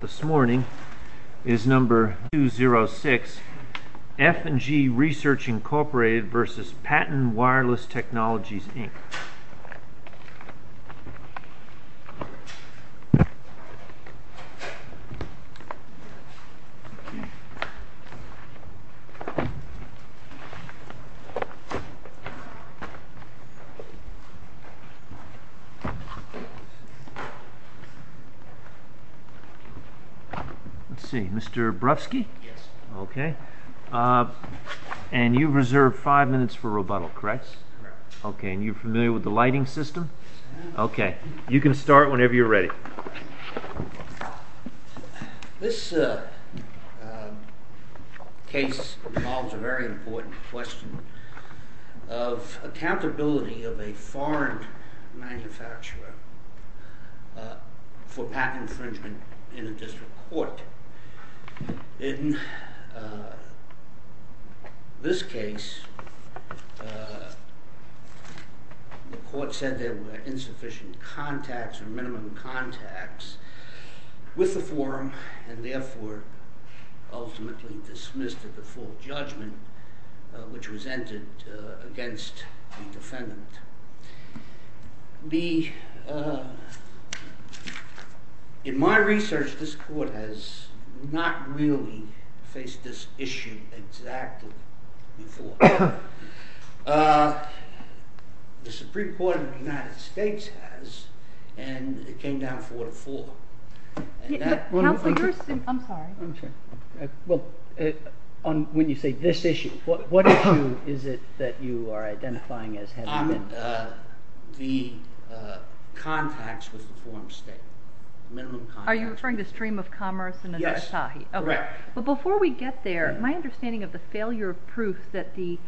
This morning is number 206 F&G Research Incorporated v. Paten Wireless Technologies, Inc. Let's see, Mr. Brofsky? Yes. Okay, and you've reserved five minutes for rebuttal, correct? Correct. Okay, and you're familiar with the lighting system? Yes. Okay, you can start whenever you're ready. This case involves a very important question of accountability of a foreign manufacturer for patent infringement in a district court. In this case, the court said there were insufficient contacts or minimum contacts with the forum and therefore ultimately dismissed it before judgment, which was entered against the defendant. In my research, this court has not really faced this issue exactly before. The Supreme Court of the United States has, and it came down 4 to 4. I'm sorry. Well, when you say this issue, what issue is it that you are identifying as having been? The contacts with the forum state, minimum contacts. Are you referring to Stream of Commerce and Anastahi? Yes, correct. But before we get there, my understanding of the failure of proof that the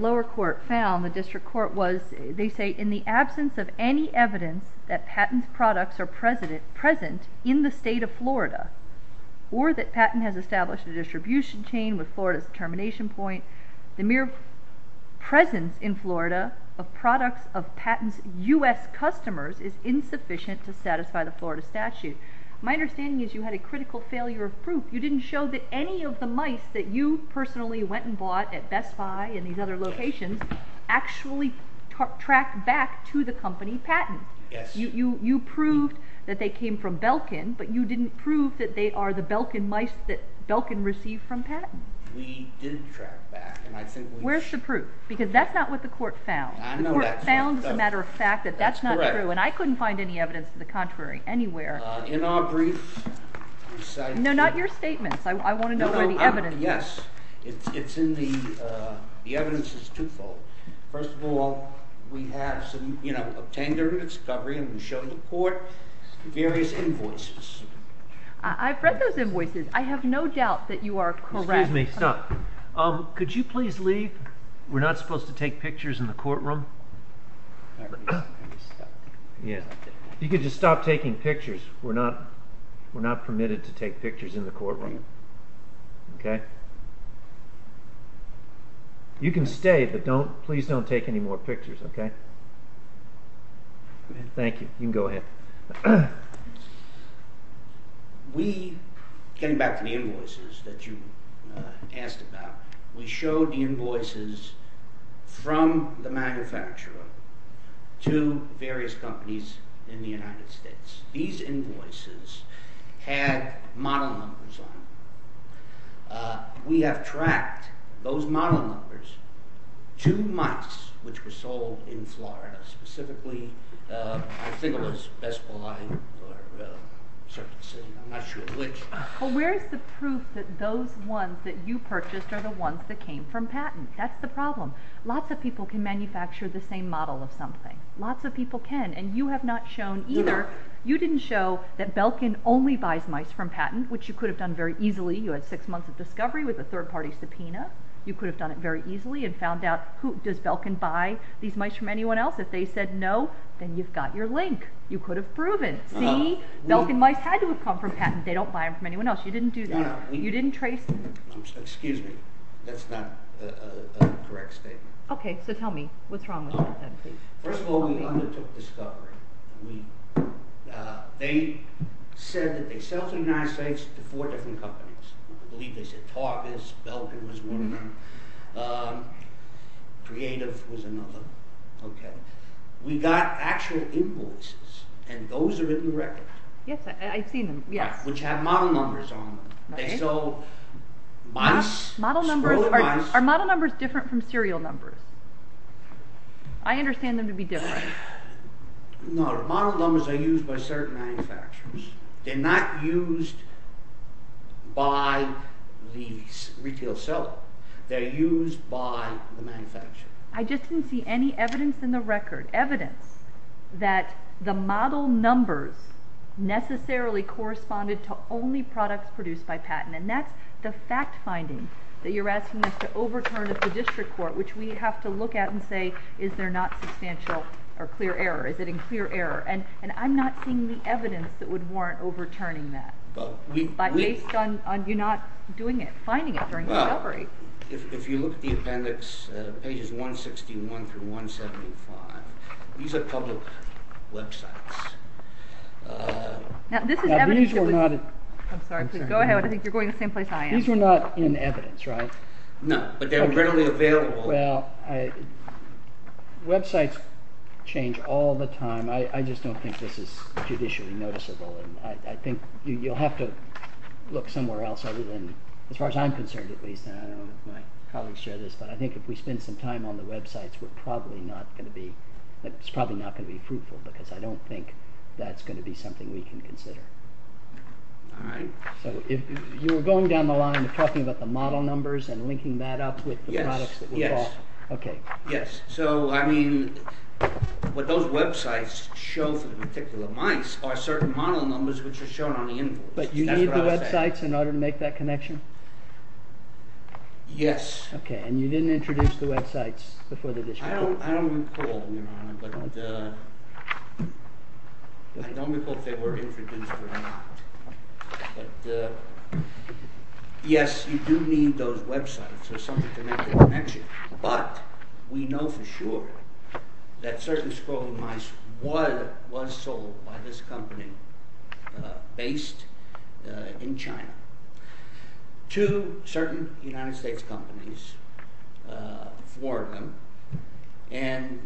lower court found, the district court was, they say, in the absence of any evidence that Paten's products are present in the state of Florida or that Paten has established a distribution chain with Florida's determination point, the mere presence in Florida of products of Paten's U.S. customers is insufficient to satisfy the Florida statute. My understanding is you had a critical failure of proof. You didn't show that any of the mice that you personally went and bought at Best Buy and these other locations actually tracked back to the company Paten. Yes. You proved that they came from Belkin, but you didn't prove that they are the Belkin mice that Belkin received from Paten. We did track back, and I think we… Where's the proof? Because that's not what the court found. I know that. The court found as a matter of fact that that's not true, and I couldn't find any evidence to the contrary anywhere. In our brief, we cite… No, not your statements. I want to know where the evidence is. Yes. It's in the… The evidence is twofold. First of all, we have some, you know, obtained during the discovery, and we show the court various invoices. I've read those invoices. I have no doubt that you are correct. Excuse me. Stop. Could you please leave? We're not supposed to take pictures in the courtroom. All right. Let me stop. Yes. You could just stop taking pictures. We're not permitted to take pictures in the courtroom. Okay. You can stay, but please don't take any more pictures, okay? Thank you. You can go ahead. We – getting back to the invoices that you asked about – we showed the invoices from the manufacturer to various companies in the United States. These invoices had model numbers on them. We have tracked those model numbers to mice which were sold in Florida, specifically – I think it was Bespaline or Serpentine. I'm not sure which. Well, where is the proof that those ones that you purchased are the ones that came from patent? That's the problem. Lots of people can manufacture the same model of something. Lots of people can, and you have not shown either. You didn't show that Belkin only buys mice from patent, which you could have done very easily. You had six months of discovery with a third-party subpoena. You could have done it very easily and found out, does Belkin buy these mice from anyone else? If they said no, then you've got your link. You could have proven. See? Belkin mice had to have come from patent. They don't buy them from anyone else. You didn't do that. You didn't trace them. Excuse me. That's not a correct statement. Okay. So tell me. What's wrong with Belkin? First of all, we undertook discovery. They said that they sell to the United States to four different companies. I believe they said Tarvis, Belkin was one. Creative was another. We got actual invoices, and those are in the record. Yes, I've seen them. Yes. Which have model numbers on them. They sold mice. Are model numbers different from serial numbers? I understand them to be different. No. Model numbers are used by certain manufacturers. They're not used by the retail seller. They're used by the manufacturer. I just didn't see any evidence in the record. Evidence that the model numbers necessarily corresponded to only products produced by patent. And that's the fact finding that you're asking us to overturn at the district court, which we have to look at and say, is there not substantial or clear error? Is it in clear error? And I'm not seeing the evidence that would warrant overturning that. Based on you not doing it, finding it during discovery. If you look at the appendix, pages 161 through 175, these are public websites. Now, this is evidence. I'm sorry, please go ahead. I think you're going to the same place I am. These were not in evidence, right? No, but they were readily available. Well, websites change all the time. I just don't think this is judicially noticeable. I think you'll have to look somewhere else other than, as far as I'm concerned at least, and I don't know if my colleagues share this, but I think if we spend some time on the websites, it's probably not going to be fruitful, because I don't think that's going to be something we can consider. All right. So you were going down the line and talking about the model numbers and linking that up with the products that we bought. Yes. So, I mean, what those websites show for the particular mice are certain model numbers which are shown on the invoice. But you need the websites in order to make that connection? Yes. Okay, and you didn't introduce the websites before the discussion? I don't recall, Your Honor, but I don't recall if they were introduced or not. But, yes, you do need those websites or something to make the connection. But we know for sure that certain scrolling mice was sold by this company based in China to certain United States companies, four of them, and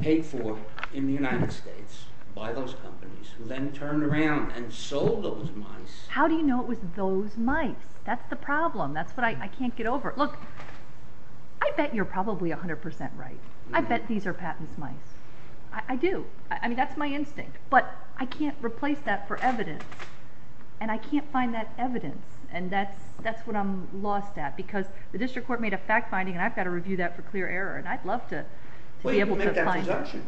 paid for in the United States by those companies who then turned around and sold those mice. How do you know it was those mice? That's the problem. That's what I can't get over. Look, I bet you're probably 100% right. I bet these are Patton's mice. I do. I mean, that's my instinct. But I can't replace that for evidence, and I can't find that evidence. And that's what I'm lost at because the district court made a fact-finding, and I've got to review that for clear error, and I'd love to be able to find that. Well, you can make that presumption.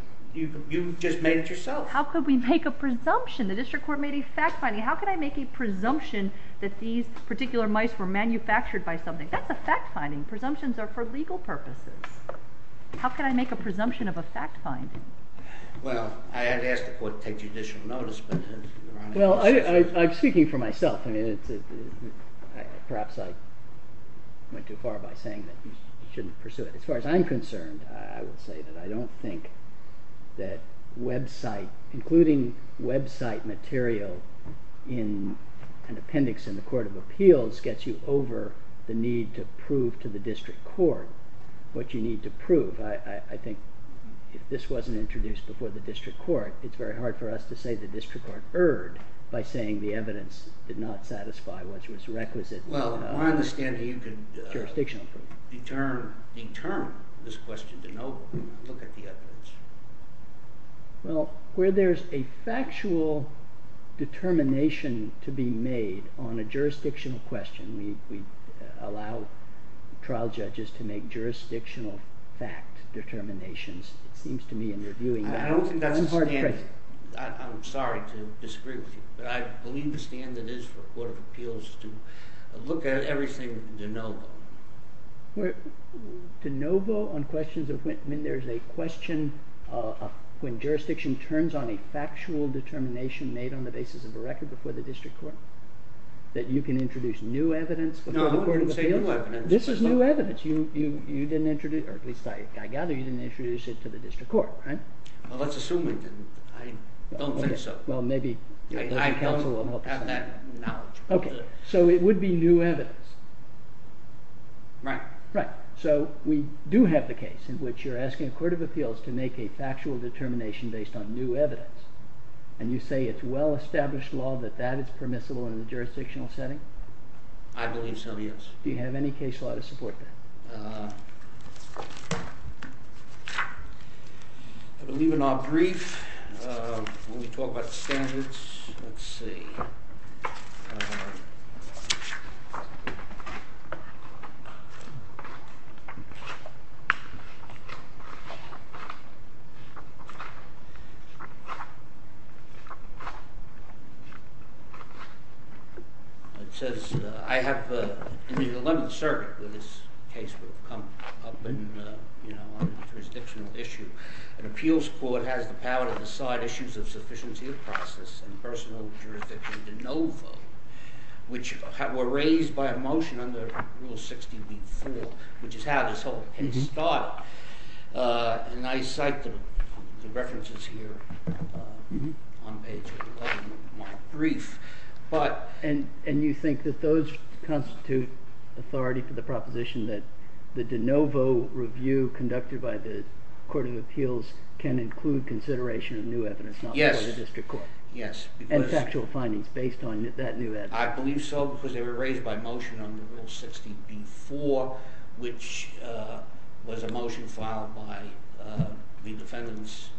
You just made it yourself. How could we make a presumption? The district court made a fact-finding. How could I make a presumption that these particular mice were manufactured by something? That's a fact-finding. Presumptions are for legal purposes. How could I make a presumption of a fact-finding? Well, I had asked the court to take judicial notice, Well, I'm speaking for myself. Perhaps I went too far by saying that you shouldn't pursue it. As far as I'm concerned, I would say that I don't think that website, including website material in an appendix in the court of appeals gets you over the need to prove to the district court what you need to prove. I think if this wasn't introduced before the district court, it's very hard for us to say the district court erred by saying the evidence did not satisfy what was requisite. Well, I understand how you could determine this question to no look at the evidence. Well, where there's a factual determination to be made on a jurisdictional question, we allow trial judges to make jurisdictional fact determinations. I don't think that's the standard. I'm sorry to disagree with you, but I believe the standard is for a court of appeals to look at everything de novo. De novo on questions of when there's a question, when jurisdiction turns on a factual determination made on the basis of a record before the district court, that you can introduce new evidence before the court of appeals? No, I wouldn't say new evidence. This is new evidence. I gather you didn't introduce it to the district court, right? Well, let's assume I didn't. I don't think so. Okay, so it would be new evidence. Right. Right. So we do have the case in which you're asking a court of appeals to make a factual determination based on new evidence, and you say it's well-established law that that is permissible in a jurisdictional setting? I believe so, yes. Do you have any case law to support that? I believe in our brief when we talk about standards, let's see. It says, I have the 11th Circuit where this case will come up on a jurisdictional issue. An appeals court has the power to decide issues of sufficiency of process and personal jurisdiction de novo, which were raised by a motion under Rule 60b-4, which is how this whole case started. And I cite the references here on page 11 of my brief. And you think that those constitute authority for the proposition that the de novo review conducted by the court of appeals can include consideration of new evidence not before the district court? Yes. And factual findings based on that new evidence? I believe so, because they were raised by motion under Rule 60b-4, which was a motion filed by the defendants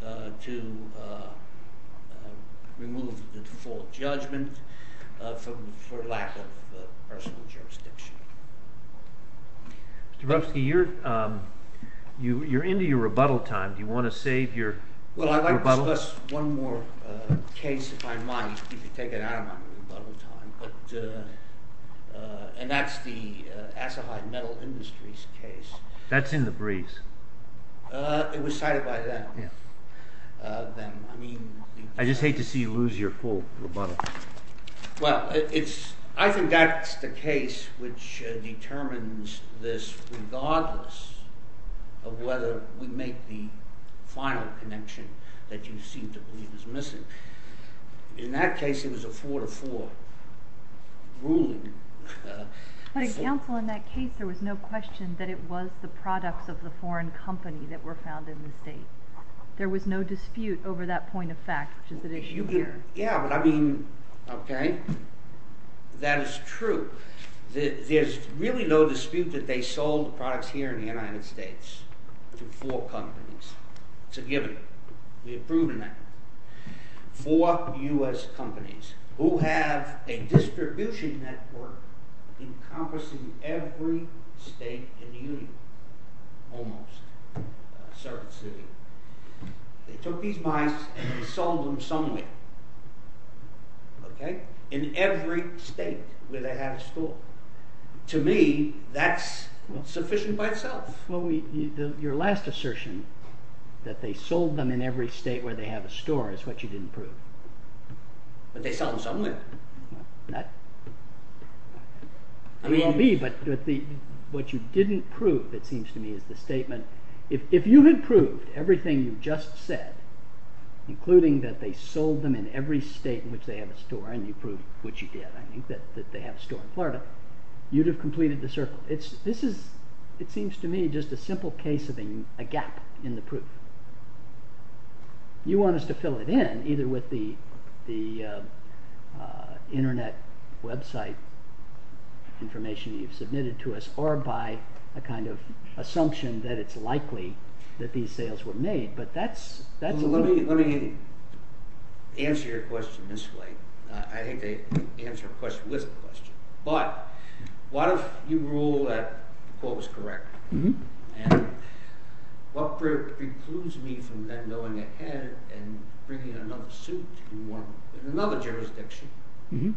to remove the default judgment for lack of personal jurisdiction. Mr. Brodsky, you're into your rebuttal time. Do you want to save your rebuttal? Well, I'd like to discuss one more case if I might, if you take it out of my rebuttal time. And that's the Asahai Metal Industries case. That's in the briefs. It was cited by them. I just hate to see you lose your full rebuttal. Well, I think that's the case which determines this regardless of whether we make the final connection that you seem to believe is missing. In that case, it was a four-to-four ruling. But, counsel, in that case, there was no question that it was the products of the foreign company that were found in the state. There was no dispute over that point of fact, which is at issue here. Yeah, but I mean, okay, that is true. There's really no dispute that they sold the products here in the United States to four companies. It's a given. We have proven that. Four U.S. companies who have a distribution network encompassing every state in the union, almost, a certain city. They took these mice and sold them somewhere. In every state where they have a store. To me, that's sufficient by itself. Well, your last assertion, that they sold them in every state where they have a store, is what you didn't prove. But they sell them somewhere. They won't be, but what you didn't prove, it seems to me, is the statement, if you had proved everything you've just said, including that they sold them in every state in which they have a store, and you proved what you did, I think, that they have a store in Florida, you'd have completed the circle. This is, it seems to me, just a simple case of a gap in the proof. You want us to fill it in, either with the internet website information you've submitted to us, or by a kind of assumption that it's likely that these sales were made. But that's... Let me answer your question this way. I hate to answer a question with a question. But, what if you rule that Paul was correct? And what precludes me from then going ahead and bringing another suit in another jurisdiction? And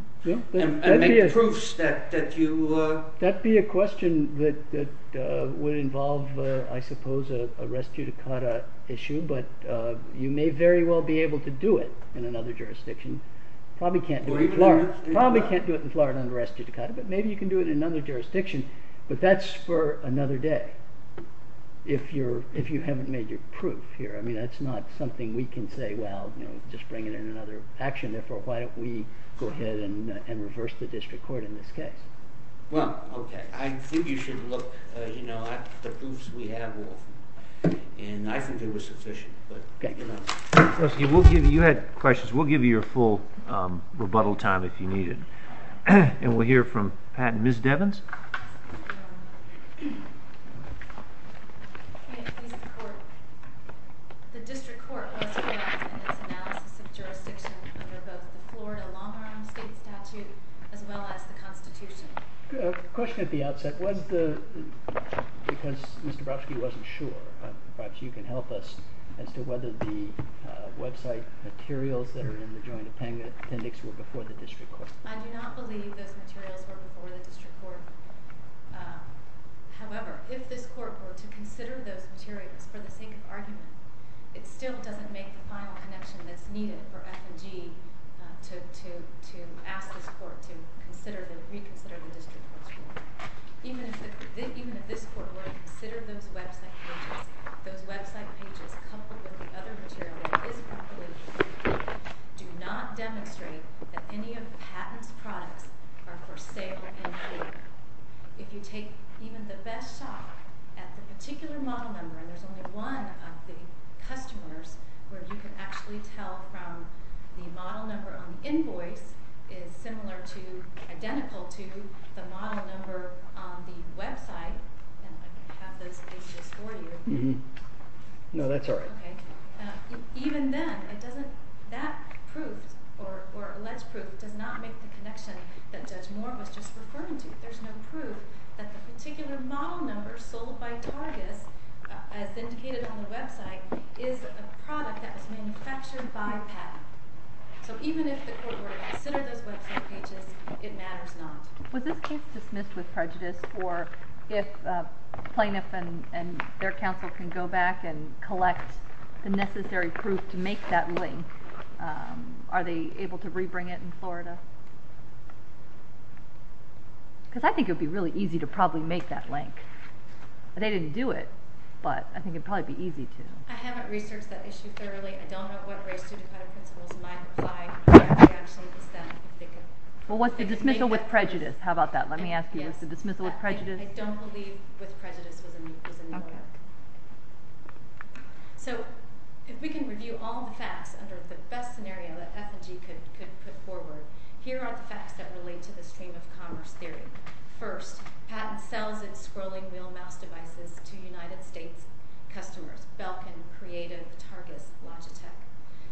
make proofs that you... That would be a question that would involve, I suppose, a res judicata issue, but you may very well be able to do it in another jurisdiction. Probably can't do it in Florida under res judicata, but maybe you can do it in another jurisdiction. But that's for another day, if you haven't made your proof here. I mean, that's not something we can say, well, just bring it in another action. Therefore, why don't we go ahead and reverse the district court in this case? Well, okay. I think you should look at the proofs we have. And I think they were sufficient. You had questions. We'll give you your full rebuttal time if you need it. And we'll hear from Pat and Ms. Devins. The district court was correct in its analysis of jurisdiction under both the Florida long-run state statute as well as the Constitution. The question at the outset was because Mr. Brodsky wasn't sure, perhaps you can help us as to whether the website materials that are in the joint appendix were before the district court. I do not believe those materials were before the district court. However, if this court were to consider those materials for the sake of argument, it still doesn't make the final connection that's needed for F&G to ask this court to reconsider the district court's ruling. Even if this court were to consider those website pages, those website pages coupled with the other material that is not related to the case do not demonstrate that any of Patton's products are for sale in court. If you take even the best shot at the particular model number, there's only one of the customers where you can actually tell from the model number on the invoice is similar to, identical to the model number on the website. I have those pages for you. No, that's all right. Even then, that proof or alleged proof does not make the connection that Judge Moore was just referring to. There's no proof that the particular model number sold by Targis as indicated on the website is a product that was manufactured by Patton. So even if the court were to consider those website pages, it matters not. Was this case dismissed with prejudice? Or if a plaintiff and their counsel can go back and collect the necessary proof to make that link, are they able to rebring it in Florida? Because I think it would be really easy to probably make that link. They didn't do it, but I think it would probably be easy to. I haven't researched that issue thoroughly. I don't know what race to defend principles might apply. I actually have some of the stuff. Well, what's the dismissal with prejudice? How about that? Let me ask you. Yes. The dismissal with prejudice? I don't believe with prejudice was in the order. Okay. So if we can review all the facts under the best scenario that F&G could put forward, here are the facts that relate to the stream of commerce theory. First, Patent sells its scrolling wheel mouse devices to United States customers, Belkin, Creative, Targus, Logitech.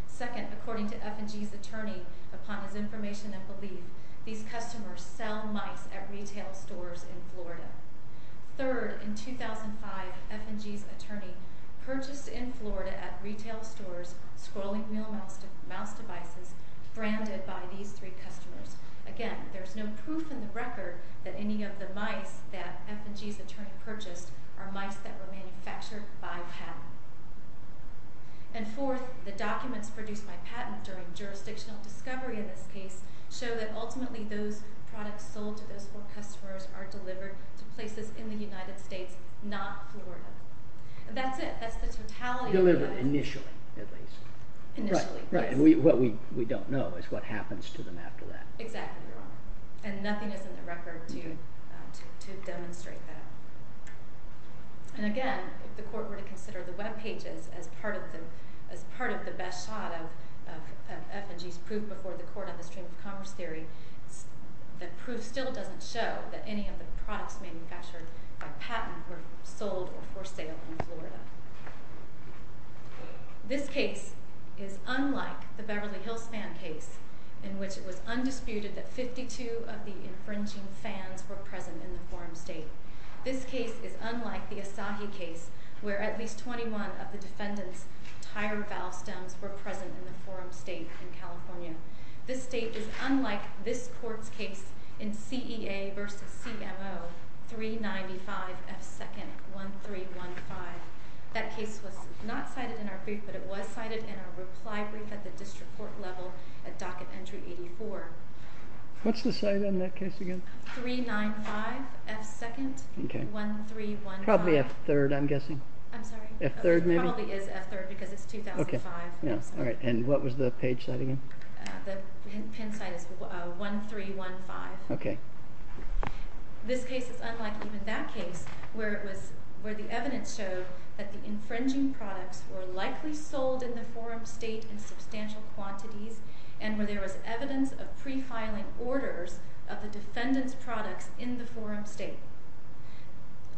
Second, according to F&G's attorney, upon his information and belief, these customers sell mice at retail stores in Florida. Third, in 2005, F&G's attorney purchased in Florida at retail stores scrolling wheel mouse devices branded by these three customers. Again, there's no proof in the record that any of the mice that F&G's attorney purchased are mice that were manufactured by Patent. And fourth, the documents produced by Patent during jurisdictional discovery in this case show that ultimately those products sold to those four customers are delivered to places in the United States, not Florida. That's it. That's the totality of the facts. Delivered initially, at least. Initially, yes. Right, and what we don't know is what happens to them after that. Exactly, Your Honor. And nothing is in the record to demonstrate that. And again, if the court were to consider the web pages as part of the best shot of F&G's proof before the court on the stream of commerce theory, the proof still doesn't show that any of the products manufactured by Patent were sold or for sale in Florida. This case is unlike the Beverly Hills fan case in which it was undisputed that 52 of the infringing fans were present in the forum state. This case is unlike the Asahi case where at least 21 of the defendant's tire valve stems were present in the forum state in California. This state is unlike this court's case in CEA v. CMO 395 F2nd 1315. That case was not cited in our brief, but it was cited in our reply brief at the district court level at docket entry 84. What's the site on that case again? 395 F2nd 1315. Probably F3rd, I'm guessing. I'm sorry? F3rd maybe? It probably is F3rd because it's 2005. All right, and what was the page site again? The pin site is F3rd 1315. Okay. This case is unlike even that case where the evidence showed that the infringing products were likely sold in the forum state in substantial quantities and where there was evidence of pre-filing orders of the defendant's products in the forum state.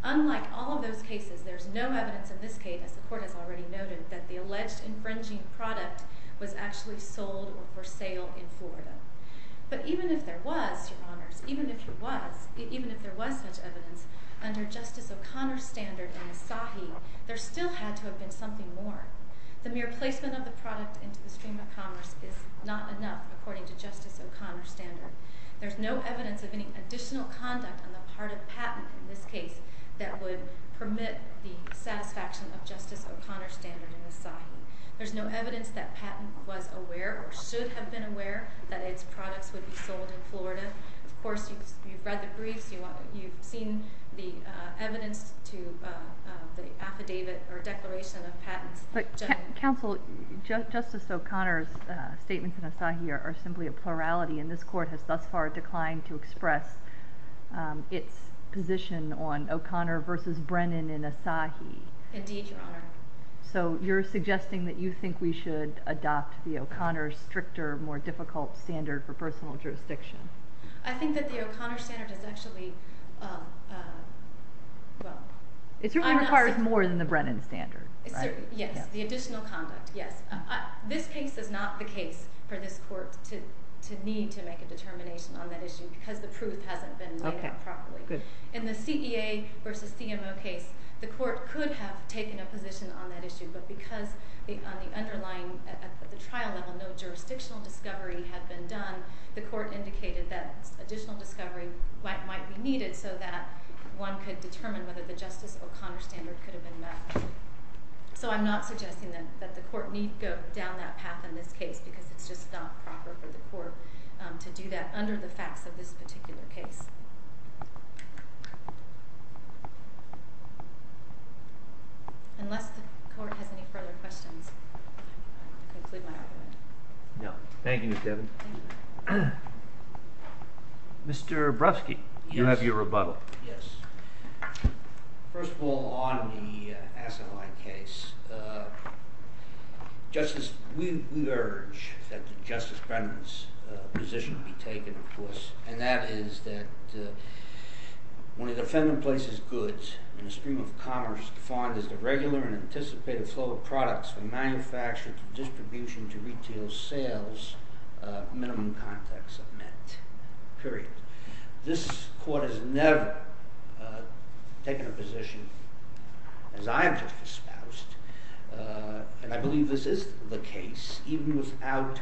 Unlike all of those cases, there's no evidence in this case, as the court has already noted, that the alleged infringing product was actually sold or for sale in Florida. But even if there was, Your Honors, even if there was such evidence, under Justice O'Connor's standard in the SAHI, there still had to have been something more. The mere placement of the product into the stream of commerce is not enough according to Justice O'Connor's standard. There's no evidence of any additional conduct on the part of patent in this case that would permit the satisfaction of Justice O'Connor's standard in the SAHI. There's no evidence that patent was aware or should have been aware that its products would be sold in Florida. Of course, you've read the briefs. You've seen the evidence to the affidavit or declaration of patents. But counsel, Justice O'Connor's statements in the SAHI are simply a plurality, and this court has thus far declined to express its position on O'Connor v. Brennan in a SAHI. Indeed, Your Honor. So you're suggesting that you think we should adopt the O'Connor's stricter, more difficult standard for personal jurisdiction. I think that the O'Connor standard is actually, well... It certainly requires more than the Brennan standard. Yes, the additional conduct, yes. This case is not the case for this court to need to make a determination on that issue because the proof hasn't been made up properly. In the CEA v. CMO case, the court could have taken a position on that issue, but because on the underlying trial level no jurisdictional discovery had been done, the court indicated that additional discovery might be needed so that one could determine whether the Justice O'Connor standard could have been met. So I'm not suggesting that the court need go down that path in this case because it's just not proper for the court to do that under the facts of this particular case. Unless the court has any further questions, I conclude my argument. No. Thank you, Ms. Devon. Mr. Brodsky, you have your rebuttal. Yes. First of all, on the SAHI case, we urge that Justice Brennan's position be taken, of course, and that is that when a defendant places goods in the stream of commerce defined as the regular and anticipated flow of products from manufacture to distribution to retail sales, minimum contacts are met, period. This court has never taken a position, as I have just espoused, and I believe this is the case, even without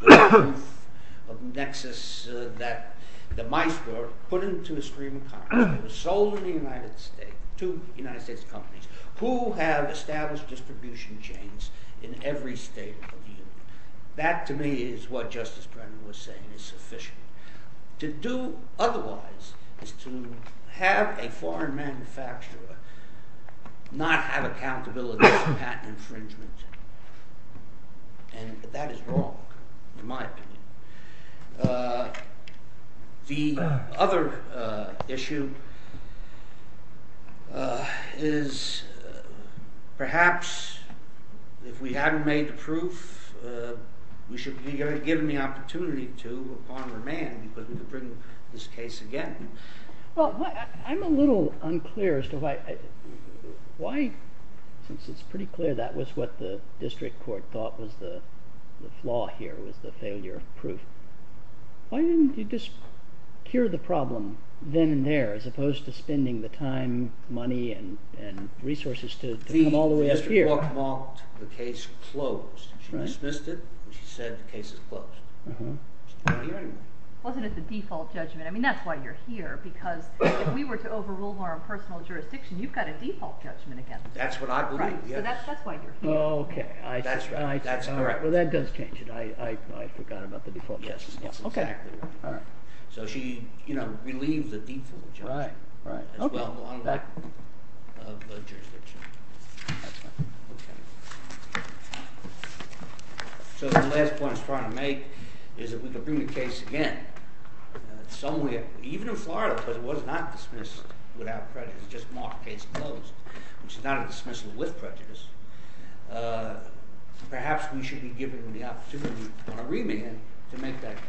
the proof of nexus that the mice were put into a stream of commerce that was sold in the United States to United States companies who have established distribution chains in every state of the union. That, to me, is what Justice Brennan was saying is sufficient. To do otherwise is to have a foreign manufacturer not have accountability for patent infringement, and that is wrong, in my opinion. The other issue is perhaps if we hadn't made the proof, we should be given the opportunity to upon remand because we could bring this case again. I'm a little unclear as to why, since it's pretty clear that was what the district court thought was the flaw here, was the failure of proof. Why didn't you just cure the problem then and there as opposed to spending the time, money, and resources to come all the way up here? She mocked the case closed. She dismissed it, and she said the case is closed. Wasn't it the default judgment? I mean, that's why you're here, because if we were to overrule our own personal jurisdiction, you've got a default judgment against us. That's what I believe, yes. So that's why you're here. Oh, okay. That's correct. Well, that does change it. I forgot about the default judgment. Yes, that's exactly right. So she relieved the default judgment as well, on the back of the jurisdiction. So the last point I was trying to make is that we could bring the case again. Even in Florida, because it was not dismissed without prejudice, just mocked the case closed, which is not a dismissal with prejudice, perhaps we should be giving them the opportunity on a remand to make that connection.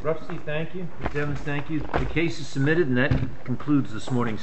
Mr. Bruxy, thank you. Ms. Evans, thank you. The case is submitted, and that concludes this morning's sittings.